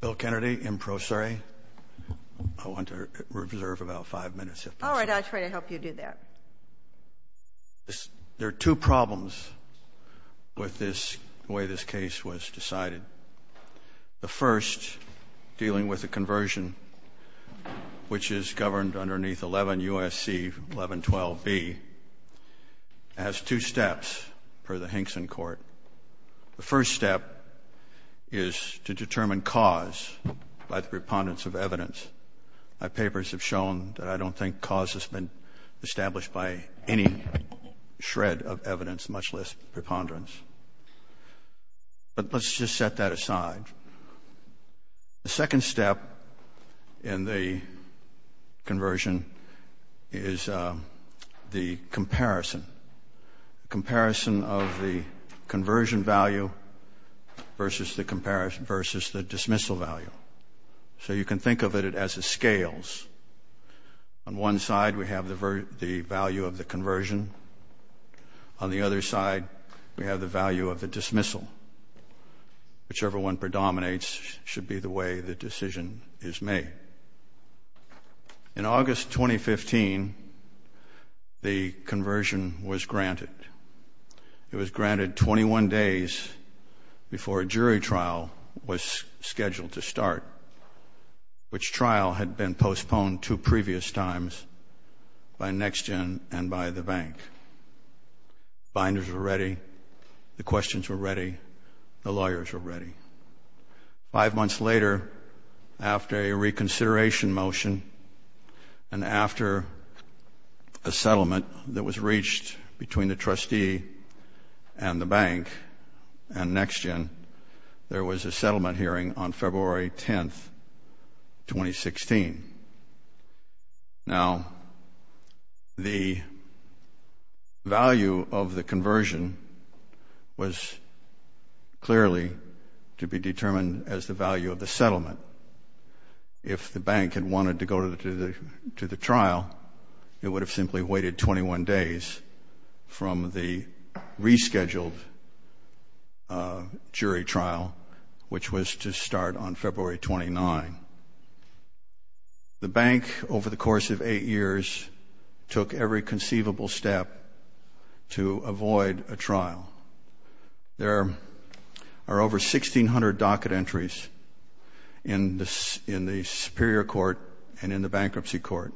Bill Kennedy, in pro se. I want to reserve about five minutes. All right, I'll try to help you do that. There are two problems with this, the way this case was decided. The first, dealing with the conversion, which is governed underneath 11 U.S.C. 1112b, has two steps, per the Hinkson Court. The first step is to determine cause by the preponderance of evidence. My papers have shown that I don't think cause has been established by any shred of evidence, much less preponderance. But let's just set that aside. The second step in the conversion is the comparison. Comparison of the conversion value versus the dismissal value. So you can think of it as a scales. On one side, we have the value of the conversion. On the other side, we have the value of the dismissal. Whichever one predominates should be the way the decision is made. In August 2015, the conversion was granted. It was granted 21 days before a jury trial was scheduled to start, which trial had been postponed two previous times by NexGen and by the bank. Binders were ready. The questions were ready. The lawyers were ready. Five months later, after a reconsideration motion and after a settlement that was reached between the trustee and the bank and NexGen, there was a settlement hearing on February 10, 2016. Now, the value of the conversion was clearly to be determined as the value of the settlement. If the bank had wanted to go to the trial, it would have simply waited 21 days from the rescheduled jury trial, which was to start on February 29. The bank, over the course of eight years, took every conceivable step to avoid a trial. There are over 1,600 docket entries in the Superior Court and in the Bankruptcy Court.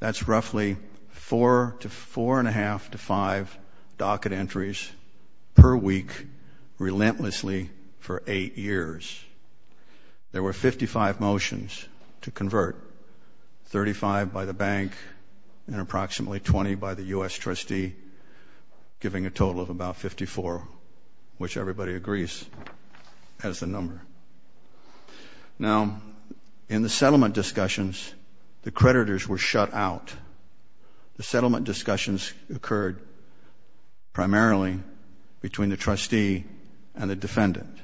That's roughly four to four and a half to five docket entries per week, relentlessly, for eight years. There were 55 motions to convert, 35 by the bank and approximately 20 by the U.S. trustee, giving a total of about 54, which everybody agrees as the number. Now, in the settlement discussions, the creditors were shut out. The settlement discussions occurred primarily between the trustee and the defendant.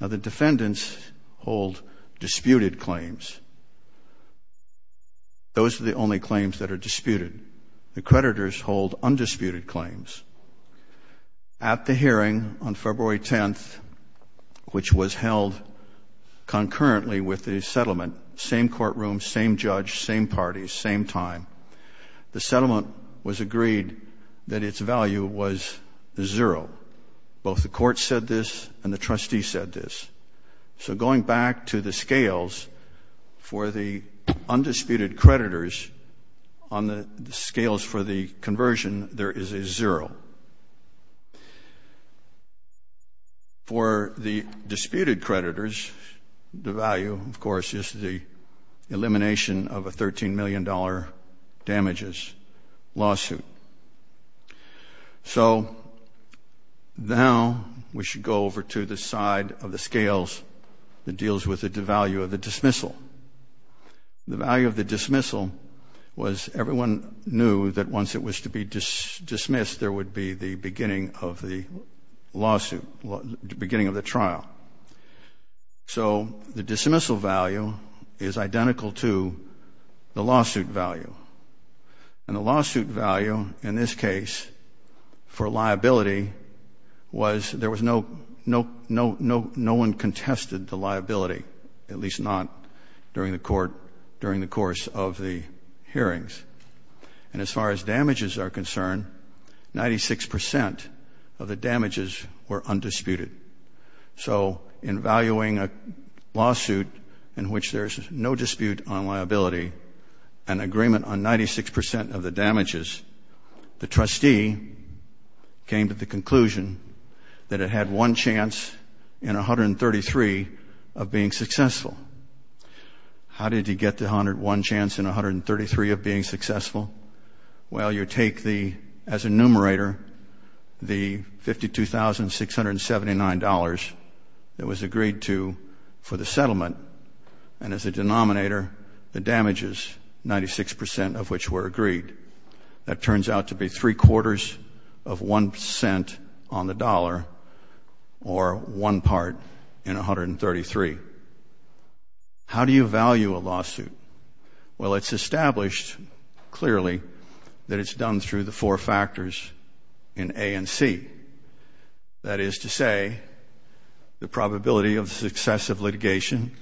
Now, the defendants hold disputed claims. Those are the only claims that are disputed. The creditors hold undisputed claims. At the hearing on February 10, which was held concurrently with the settlement, same courtroom, same judge, same parties, same time, the settlement was agreed that its value was zero. Both the court said this and the trustee said this. So going back to the scales, for the undisputed creditors, on the scales for the conversion, there is a zero. For the disputed creditors, the value, of course, is the elimination of a $13 million damages lawsuit. So now we should go over to the side of the scales that deals with the value of the dismissal. The value of the dismissal was everyone knew that once it was to be dismissed, there would be the beginning of the lawsuit, beginning of the trial. So the dismissal value is identical to the lawsuit value. And the lawsuit value in this case for liability was there was no one contested the liability, at least not during the court, during the course of the hearings. And as far as damages are concerned, 96 percent of the damages were undisputed. So in valuing a lawsuit in which there is no dispute on liability, an agreement on 96 percent of the damages, the trustee came to the conclusion that it had one chance in 133 of being successful. How did he get the one chance in 133 of being successful? Well, you take the, as a numerator, the $52,679 that was agreed to for the settlement, and as a denominator, the damages, 96 percent of which were agreed. That turns out to be three-quarters of one cent on the dollar, or one part in 133. How do you value a lawsuit? Well, it's established clearly that it's done through the four factors in A and C. That is to say, the probability of the success of litigation,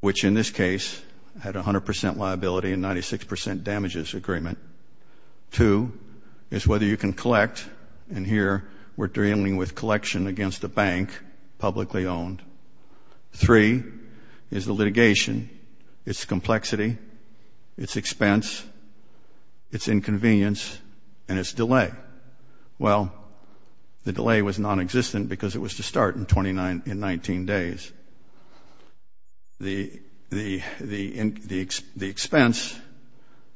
which in this case had 100 percent liability and 96 percent damages agreement. Two is whether you can collect, and here we're dealing with collection against a bank publicly owned. Three is the litigation, its complexity, its expense, its inconvenience, and its delay. Well, the delay was nonexistent because it was to start in 19 days. The expense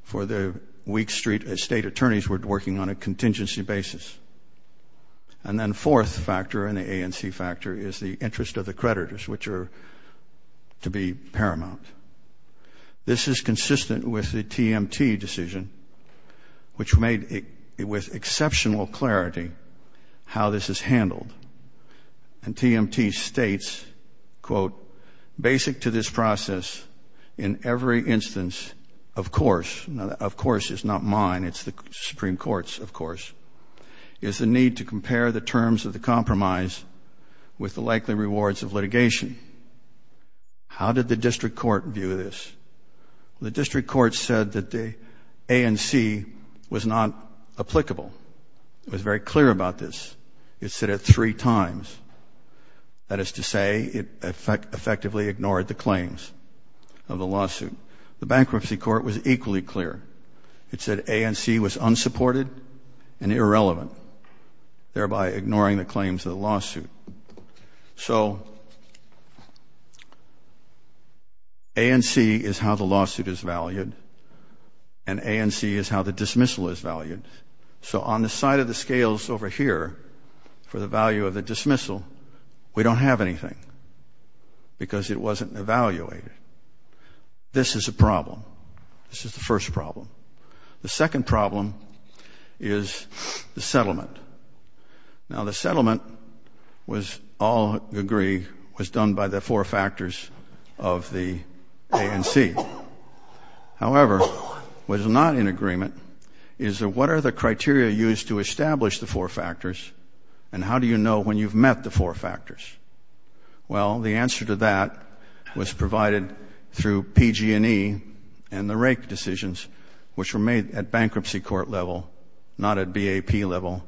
for the weak state attorneys were working on a contingency basis. And then fourth factor in the A and C factor is the interest of the creditors, which are to be paramount. This is consistent with the TMT decision, which made it with exceptional clarity how this is handled. And TMT states, quote, basic to this process, in every instance, of course, now of course is not mine, it's the Supreme Court's, of course, is the need to compare the terms of the compromise with the likely rewards of litigation. How did the district court view this? The district court said that the A and C was not applicable. It was very clear about this. It said it three times. That is to say, it effectively ignored the claims of the lawsuit. The bankruptcy court was equally clear. It said A and C was unsupported and irrelevant, thereby ignoring the claims of the lawsuit. So A and C is how the lawsuit is valued and A and C is how the dismissal is valued. So on the side of the scales over here for the value of the dismissal, we don't have anything because it wasn't evaluated. This is a problem. This is the first problem. The second problem is the settlement. Now, the settlement, all agree, was done by the four factors of the A and C. However, what is not in agreement is what are the criteria used to establish the four factors and how do you know when you've met the four factors? Well, the answer to that was provided through PG&E and the Rake decisions, which were made at bankruptcy court level, not at BAP level,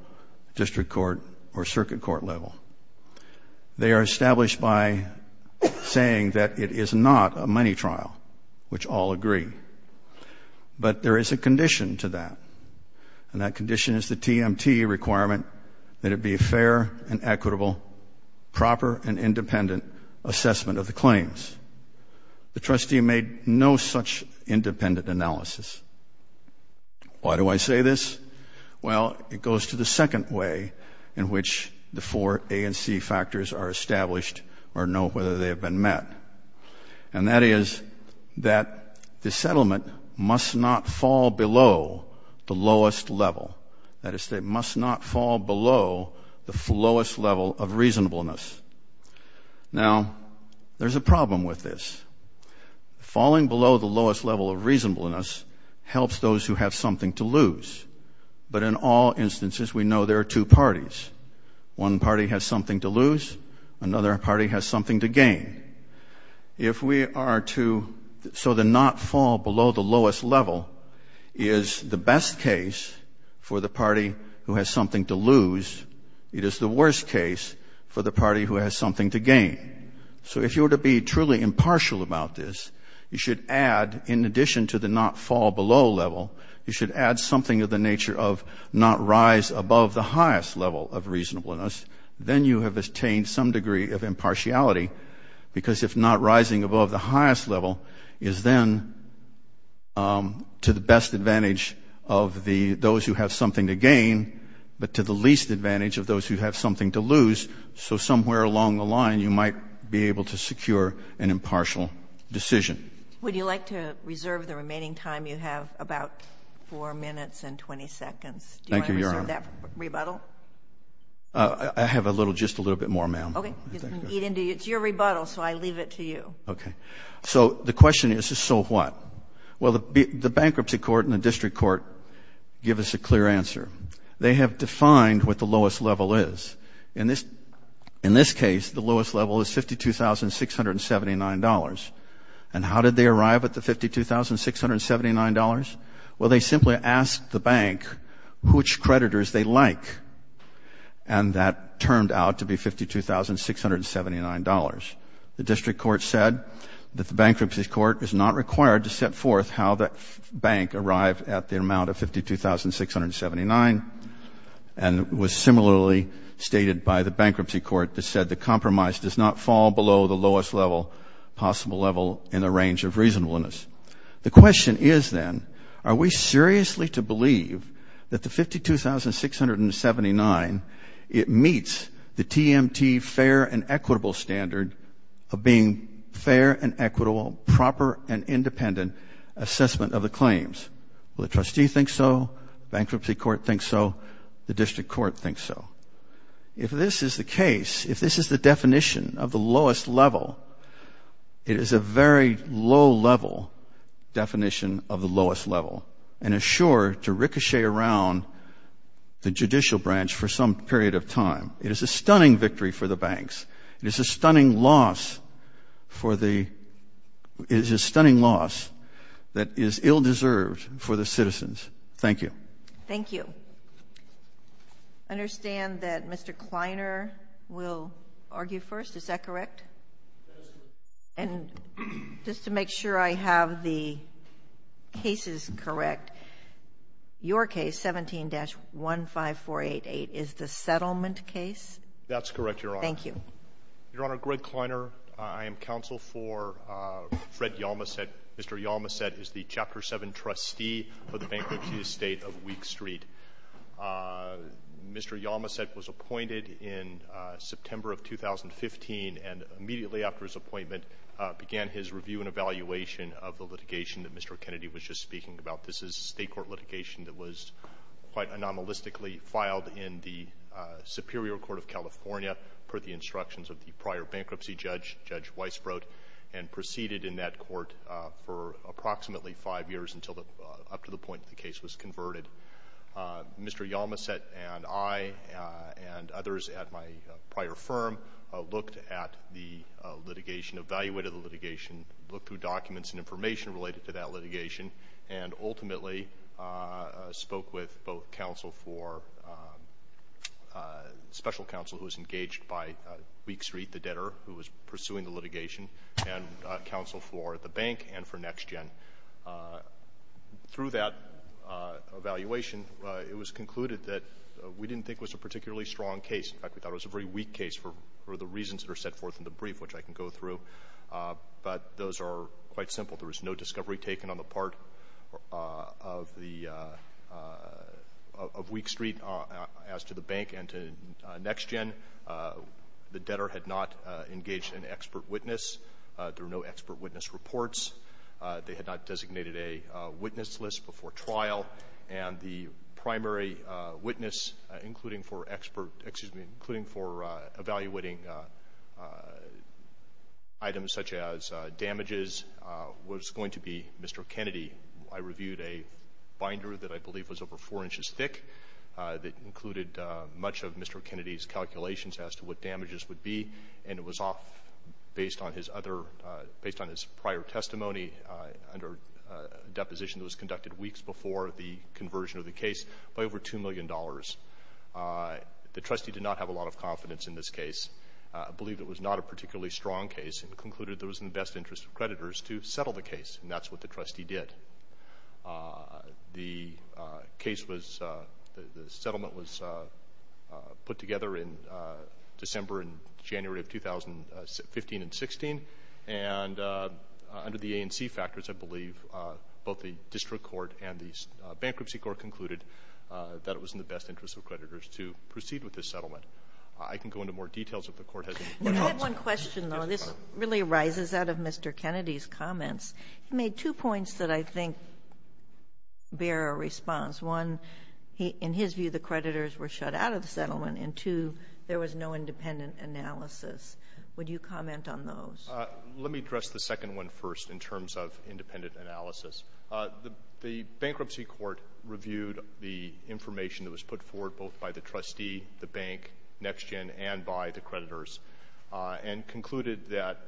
district court, or circuit court level. They are established by saying that it is not a money trial, which all agree. But there is a condition to that, and that condition is the TMT requirement that it be a fair and equitable, proper and independent assessment of the claims. The trustee made no such independent analysis. Why do I say this? Well, it goes to the second way in which the four A and C factors are established or know whether they have been met, and that is that the settlement must not fall below the lowest level. That is, it must not fall below the lowest level of reasonableness. Now, there's a problem with this. Falling below the lowest level of reasonableness helps those who have something to lose. But in all instances, we know there are two parties. One party has something to lose. Another party has something to gain. If we are to so the not fall below the lowest level is the best case for the party who has something to lose. It is the worst case for the party who has something to gain. So if you were to be truly impartial about this, you should add, in addition to the not fall below level, you should add something of the nature of not rise above the highest level of reasonableness. Then you have attained some degree of impartiality. Because if not rising above the highest level is then to the best advantage of those who have something to gain, but to the least advantage of those who have something to lose, so somewhere along the line you might be able to secure an impartial decision. Would you like to reserve the remaining time you have, about four minutes and 20 seconds? Thank you, Your Honor. Would you like to reserve that rebuttal? I have just a little bit more, ma'am. Okay. It's your rebuttal, so I leave it to you. Okay. So the question is, so what? Well, the bankruptcy court and the district court give us a clear answer. They have defined what the lowest level is. In this case, the lowest level is $52,679. And how did they arrive at the $52,679? Well, they simply asked the bank which creditors they like, and that turned out to be $52,679. The district court said that the bankruptcy court is not required to set forth how the bank arrived at the amount of $52,679 and was similarly stated by the bankruptcy court that said the compromise does not fall below the lowest level, possible level in the range of reasonableness. The question is then, are we seriously to believe that the $52,679, it meets the TMT fair and equitable standard of being fair and equitable, proper and independent assessment of the claims? Well, the trustee thinks so. Bankruptcy court thinks so. The district court thinks so. If this is the case, if this is the definition of the lowest level, it is a very low-level definition of the lowest level and is sure to ricochet around the judicial branch for some period of time. It is a stunning victory for the banks. It is a stunning loss for the – it is a stunning loss that is ill-deserved for the citizens. Thank you. Thank you. I understand that Mr. Kleiner will argue first. Is that correct? Yes. And just to make sure I have the cases correct, your case, 17-15488, is the settlement case? That's correct, Your Honor. Thank you. Your Honor, Greg Kleiner. I am counsel for Fred Yalmaset. Mr. Yalmaset is the Chapter 7 trustee for the bankruptcy estate of Week Street. Mr. Yalmaset was appointed in September of 2015, and immediately after his appointment began his review and evaluation of the litigation that Mr. Kennedy was just speaking about. This is a state court litigation that was quite anomalistically filed in the Superior Court of California per the instructions of the prior bankruptcy judge, Judge Weisbrot, and proceeded in that court for approximately five years up to the point that the case was converted. Mr. Yalmaset and I and others at my prior firm looked at the litigation, evaluated the litigation, looked through documents and information related to that litigation, and ultimately spoke with both counsel for special counsel who was engaged by Week Street, the debtor, who was pursuing the litigation, and counsel for the bank and for NextGen. Through that evaluation, it was concluded that we didn't think it was a particularly strong case. In fact, we thought it was a very weak case for the reasons that are set forth in the brief, which I can go through. But those are quite simple. There was no discovery taken on the part of Week Street as to the bank and to NextGen. The debtor had not engaged an expert witness. There were no expert witness reports. They had not designated a witness list before trial. And the primary witness, including for evaluating items such as damages, was going to be Mr. Kennedy. I reviewed a binder that I believe was over four inches thick that included much of Mr. Kennedy's calculations as to what damages would be. And it was off based on his prior testimony under a deposition that was conducted weeks before the conversion of the case by over $2 million. The trustee did not have a lot of confidence in this case, believed it was not a particularly strong case, and concluded it was in the best interest of creditors to settle the case, and that's what the trustee did. The case was, the settlement was put together in December and January of 2015 and 16. And under the ANC factors, I believe, both the District Court and the Bankruptcy Court concluded that it was in the best interest of creditors to proceed with this settlement. I can go into more details if the Court has any more comments. I have one question, though. This really arises out of Mr. Kennedy's comments. He made two points that I think bear a response. One, in his view, the creditors were shut out of the settlement, and two, there was no independent analysis. Would you comment on those? Let me address the second one first in terms of independent analysis. The Bankruptcy Court reviewed the information that was put forward both by the trustee, the bank, NextGen, and by the creditors, and concluded that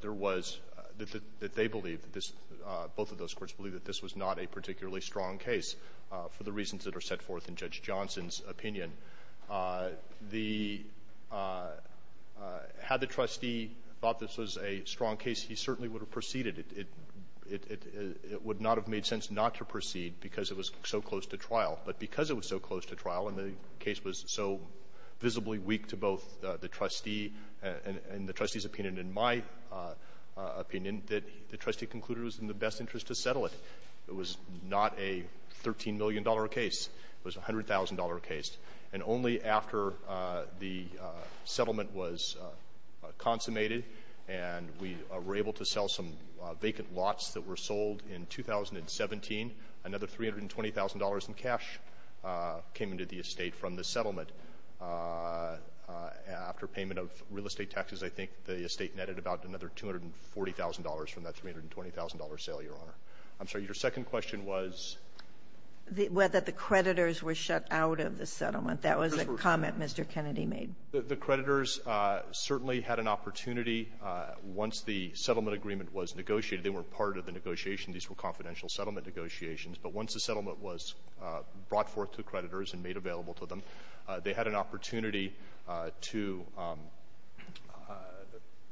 there was, that they believe, both of those courts believe, that this was not a particularly strong case for the reasons that are set forth in Judge Johnson's opinion. Had the trustee thought this was a strong case, he certainly would have proceeded. It would not have made sense not to proceed because it was so close to trial. But because it was so close to trial and the case was so visibly weak to both the trustee and the trustee's opinion and my opinion, that the trustee concluded it was in the best interest to settle it. It was not a $13 million case. It was a $100,000 case. And only after the settlement was consummated and we were able to sell some vacant lots that were sold in 2017, another $320,000 in cash came into the estate from the settlement. After payment of real estate taxes, I think the estate netted about another $240,000 from that $320,000 sale, Your Honor. I'm sorry, your second question was? Whether the creditors were shut out of the settlement. That was a comment Mr. Kennedy made. The creditors certainly had an opportunity once the settlement agreement was negotiated. They were part of the negotiation. These were confidential settlement negotiations. But once the settlement was brought forth to creditors and made available to them, they had an opportunity to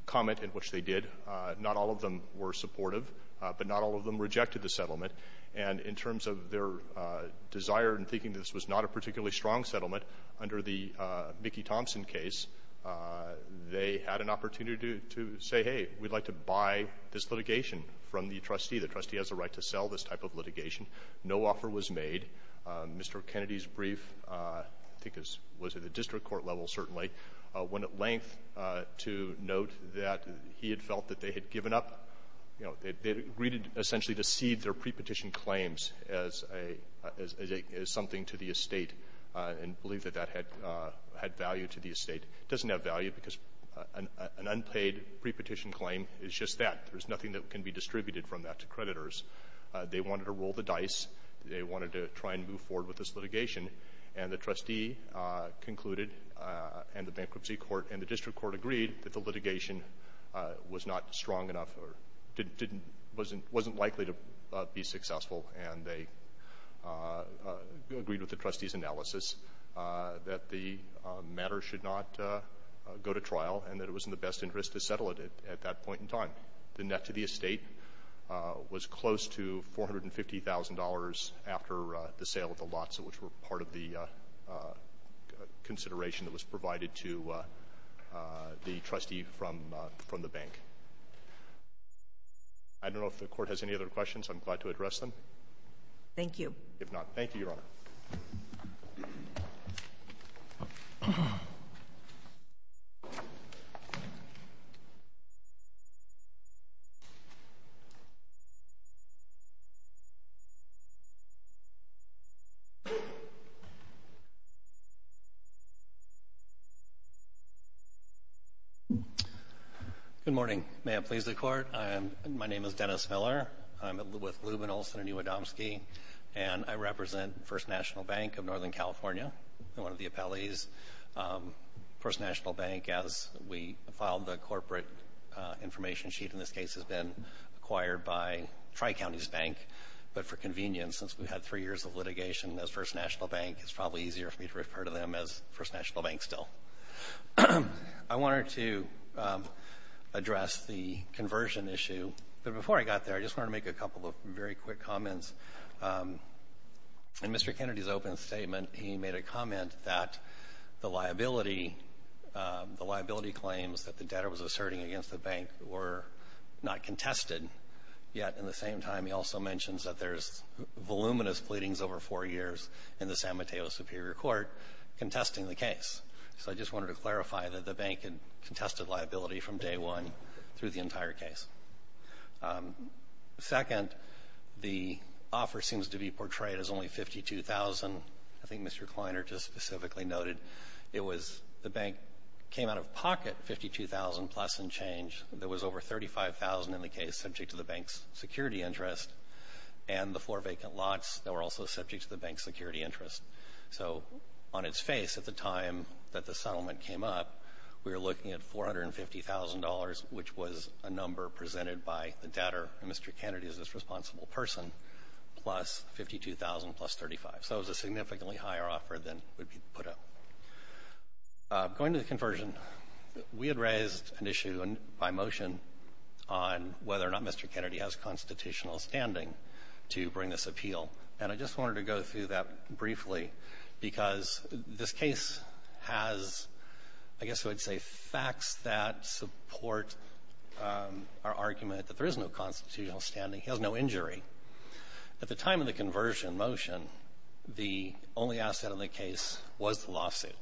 comment, in which they did. Not all of them were supportive, but not all of them rejected the settlement. And in terms of their desire in thinking this was not a particularly strong settlement, under the Mickey Thompson case, they had an opportunity to say, hey, we'd like to buy this litigation from the trustee. The trustee has the right to sell this type of litigation. No offer was made. Mr. Kennedy's brief, I think it was at the district court level certainly, went at length to note that he had felt that they had given up. You know, they had agreed essentially to cede their pre-petition claims as something to the estate and believed that that had value to the estate. It doesn't have value because an unpaid pre-petition claim is just that. There's nothing that can be distributed from that to creditors. They wanted to roll the dice. They wanted to try and move forward with this litigation. And the trustee concluded and the bankruptcy court and the district court agreed that the litigation was not strong enough or wasn't likely to be successful. And they agreed with the trustee's analysis that the matter should not go to trial and that it was in the best interest to settle it at that point in time. The net to the estate was close to $450,000 after the sale of the lots, which were part of the consideration that was provided to the trustee from the bank. I don't know if the Court has any other questions. I'm glad to address them. Thank you. If not, thank you, Your Honor. Thank you. Good morning. May it please the Court. My name is Dennis Miller. I'm with Luben Olson and U. Adamski. And I represent First National Bank of Northern California, one of the appellees. First National Bank, as we filed the corporate information sheet in this case, has been acquired by Tri-Counties Bank. But for convenience, since we've had three years of litigation as First National Bank, it's probably easier for me to refer to them as First National Bank still. I wanted to address the conversion issue. But before I got there, I just wanted to make a couple of very quick comments. In Mr. Kennedy's open statement, he made a comment that the liability claims that the debtor was asserting against the bank were not contested. Yet, in the same time, he also mentions that there's voluminous pleadings over four years in the San Mateo Superior Court contesting the case. So I just wanted to clarify that the bank had contested liability from day one through the entire case. Second, the offer seems to be portrayed as only $52,000. I think Mr. Kleiner just specifically noted it was the bank came out of pocket $52,000 plus in change. There was over $35,000 in the case subject to the bank's security interest, and the four vacant lots that were also subject to the bank's security interest. So on its face at the time that the settlement came up, we were looking at $450,000, which was a number presented by the debtor, and Mr. Kennedy is this responsible person, plus $52,000 plus $35,000. So it was a significantly higher offer than would be put up. Going to the conversion, we had raised an issue by motion on whether or not Mr. Kennedy has constitutional standing to bring this appeal, and I just wanted to go through that briefly because this case has, I guess I would say, facts that support our argument that there is no constitutional standing. He has no injury. At the time of the conversion motion, the only asset of the case was the lawsuit,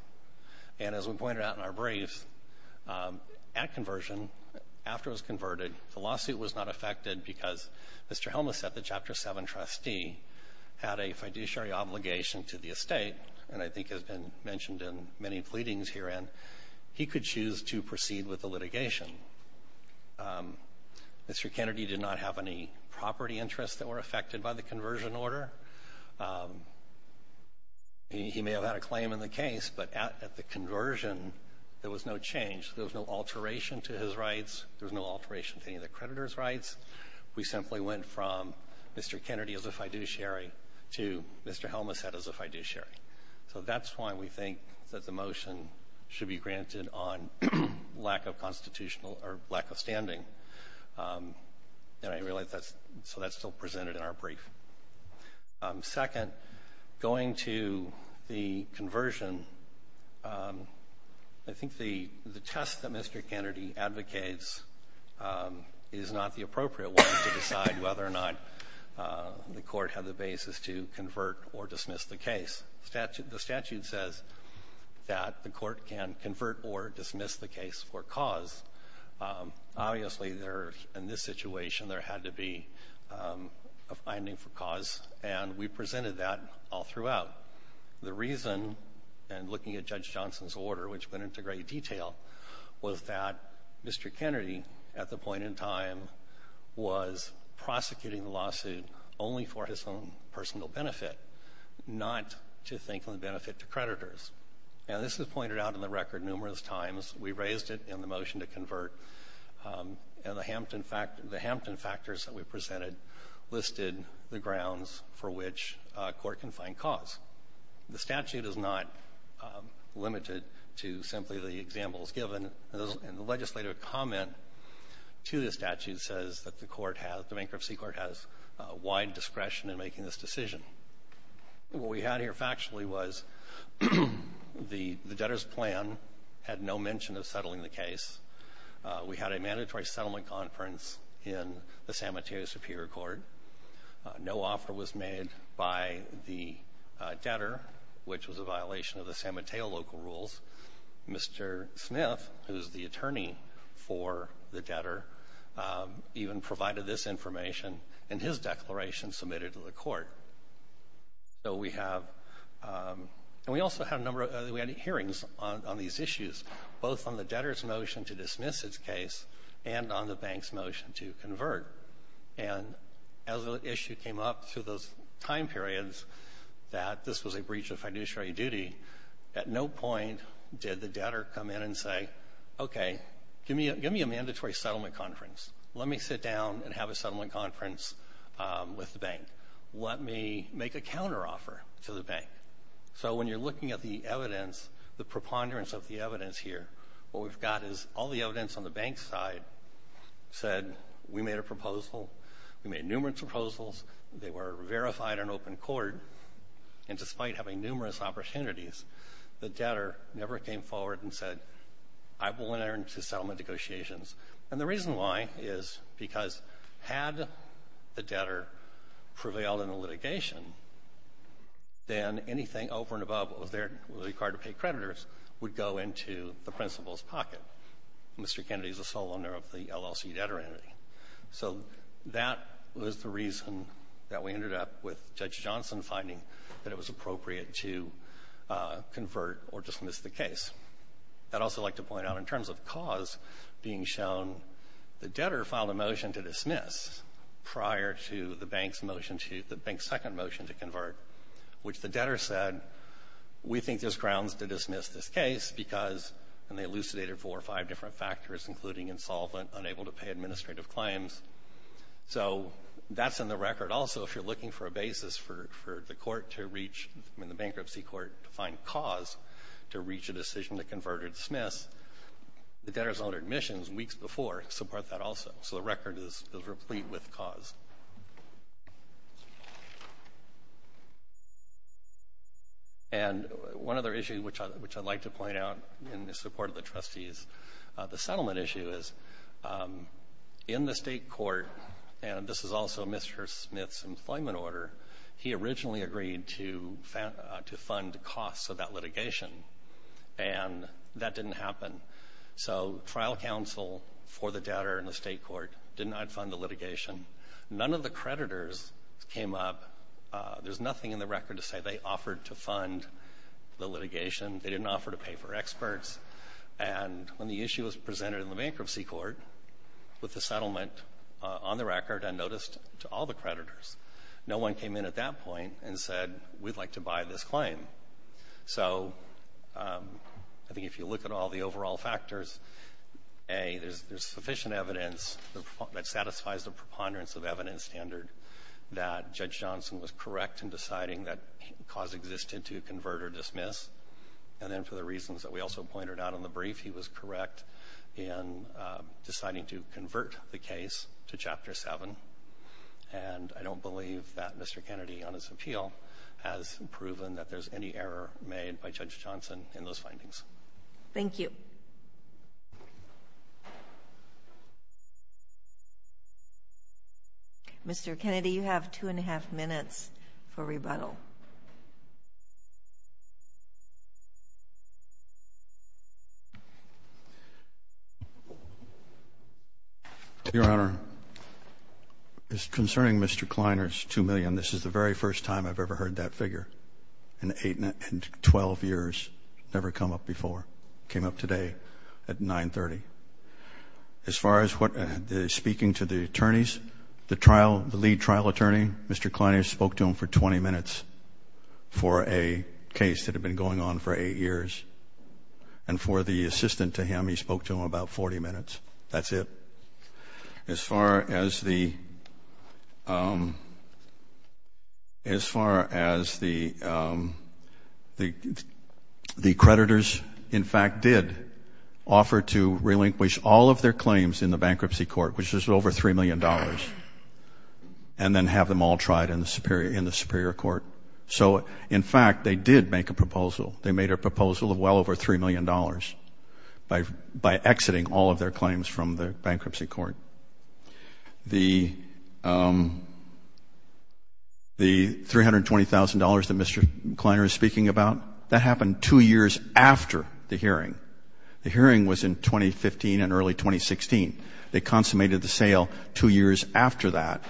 and as we pointed out in our brief, at conversion, after it was converted, the lawsuit was not affected because Mr. Helmas at the Chapter 7 trustee had a fiduciary obligation to the estate, and I think has been mentioned in many pleadings herein. He could choose to proceed with the litigation. Mr. Kennedy did not have any property interests that were affected by the conversion order. He may have had a claim in the case, but at the conversion, there was no change. There was no alteration to his rights. There was no alteration to any of the creditor's rights. We simply went from Mr. Kennedy as a fiduciary to Mr. Helmas as a fiduciary. So that's why we think that the motion should be granted on lack of constitutional or lack of standing, and I realize that's still presented in our brief. Second, going to the conversion, I think the test that Mr. Kennedy advocates is not the appropriate one to decide whether or not the court had the basis to convert or dismiss the case. The statute says that the court can convert or dismiss the case for cause. Obviously, in this situation, there had to be a finding for cause, and we presented that all throughout. The reason, and looking at Judge Johnson's order, which went into great detail, was that Mr. Kennedy, at the point in time, was prosecuting the lawsuit only for his own personal benefit, not to think of the benefit to creditors. And this is pointed out in the record numerous times. We raised it in the motion to convert, and the Hampton factors that we presented listed the grounds for which a court can find cause. The statute is not limited to simply the examples given, and the legislative comment to the statute says that the bankruptcy court has wide discretion in making this decision. What we had here factually was the debtor's plan had no mention of settling the case. We had a mandatory settlement conference in the San Mateo Superior Court. No offer was made by the debtor, which was a violation of the San Mateo local rules. Mr. Smith, who is the attorney for the debtor, even provided this information in his declaration submitted to the court. We also had hearings on these issues, both on the debtor's motion to dismiss his case and on the bank's motion to convert. As the issue came up through those time periods that this was a breach of fiduciary duty, at no point did the debtor come in and say, okay, give me a mandatory settlement conference. Let me sit down and have a settlement conference with the bank. Let me make a counteroffer to the bank. So when you're looking at the evidence, the preponderance of the evidence here, what we've got is all the evidence on the bank's side said we made a proposal, we made numerous proposals, they were verified in open court, and despite having numerous opportunities, the debtor never came forward and said, I will enter into settlement negotiations. And the reason why is because had the debtor prevailed in the litigation, then anything over and above what was there required to pay creditors would go into the principal's pocket. Mr. Kennedy is the sole owner of the LLC debtor entity. So that was the reason that we ended up with Judge Johnson finding that it was appropriate to convert or dismiss the case. I'd also like to point out in terms of cause being shown, the debtor filed a motion to dismiss prior to the bank's second motion to convert, which the debtor said, we think there's grounds to dismiss this case because, and they elucidated four or five different factors, including insolvent, unable to pay administrative claims. So that's in the record. Also, if you're looking for a basis for the court to reach, I mean the bankruptcy court, to find cause to reach a decision to convert or dismiss, the debtor's own admissions weeks before support that also. So the record is replete with cause. And one other issue which I'd like to point out in support of the trustees, the settlement issue is in the state court, and this is also Mr. Smith's employment order, he originally agreed to fund the costs of that litigation, and that didn't happen. So trial counsel for the debtor in the state court did not fund the litigation. None of the creditors came up. There's nothing in the record to say they offered to fund the litigation. They didn't offer to pay for experts. And when the issue was presented in the bankruptcy court with the settlement on the record, I noticed to all the creditors, no one came in at that point and said, we'd like to buy this claim. So I think if you look at all the overall factors, A, there's sufficient evidence that satisfies the preponderance of evidence standard that Judge Johnson was correct in deciding that cause existed to convert or dismiss. And then for the reasons that we also pointed out in the brief, he was correct in deciding to convert the case to Chapter 7. And I don't believe that Mr. Kennedy, on his appeal, has proven that there's any error made by Judge Johnson in those findings. Thank you. Mr. Kennedy, you have two and a half minutes for rebuttal. Your Honor, concerning Mr. Kleiner's $2 million, this is the very first time I've ever heard that figure in 12 years, never come up before. It came up today at 9.30. As far as speaking to the attorneys, the lead trial attorney, Mr. Kleiner spoke to him for 20 minutes for a case that had been going on for eight years. And for the assistant to him, he spoke to him about 40 minutes. That's it. As far as the creditors, in fact, did offer to relinquish all of their claims in the bankruptcy court, which is over $3 million, and then have them all tried in the superior court. So, in fact, they did make a proposal. They proposed to live well over $3 million by exiting all of their claims from the bankruptcy court. The $320,000 that Mr. Kleiner is speaking about, that happened two years after the hearing. The hearing was in 2015 and early 2016. They consummated the sale two years after that.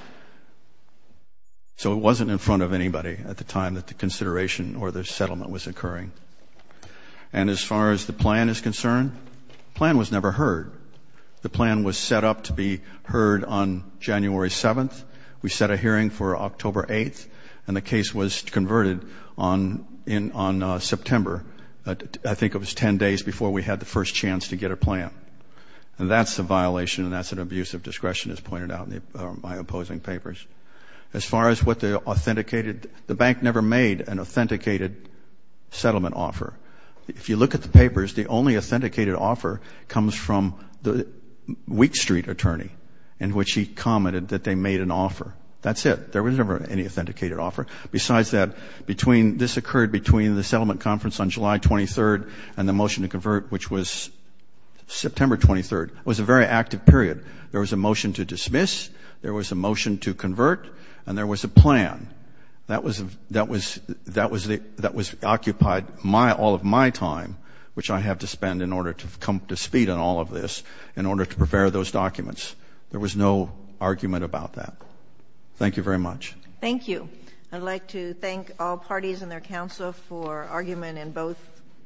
So it wasn't in front of anybody at the time that the consideration or the settlement was occurring. And as far as the plan is concerned, the plan was never heard. The plan was set up to be heard on January 7th. We set a hearing for October 8th, and the case was converted on September. I think it was 10 days before we had the first chance to get a plan. And that's a violation, and that's an abuse of discretion, as pointed out in my opposing papers. As far as what they authenticated, the bank never made an authenticated settlement offer. If you look at the papers, the only authenticated offer comes from the Wheat Street attorney, in which he commented that they made an offer. That's it. There was never any authenticated offer. Besides that, this occurred between the settlement conference on July 23rd and the motion to convert, which was September 23rd. It was a very active period. There was a motion to dismiss, there was a motion to convert, and there was a plan. That was occupied all of my time, which I have to spend in order to come to speed on all of this, in order to prepare those documents. There was no argument about that. Thank you very much. Thank you. I'd like to thank all parties and their counsel for argument in both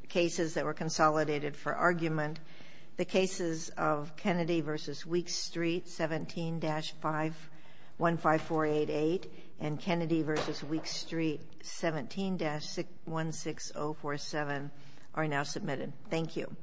cases that were consolidated for argument. The cases of Kennedy v. Wheat Street 17-15488 and Kennedy v. Wheat Street 17-16047 are now submitted. Thank you.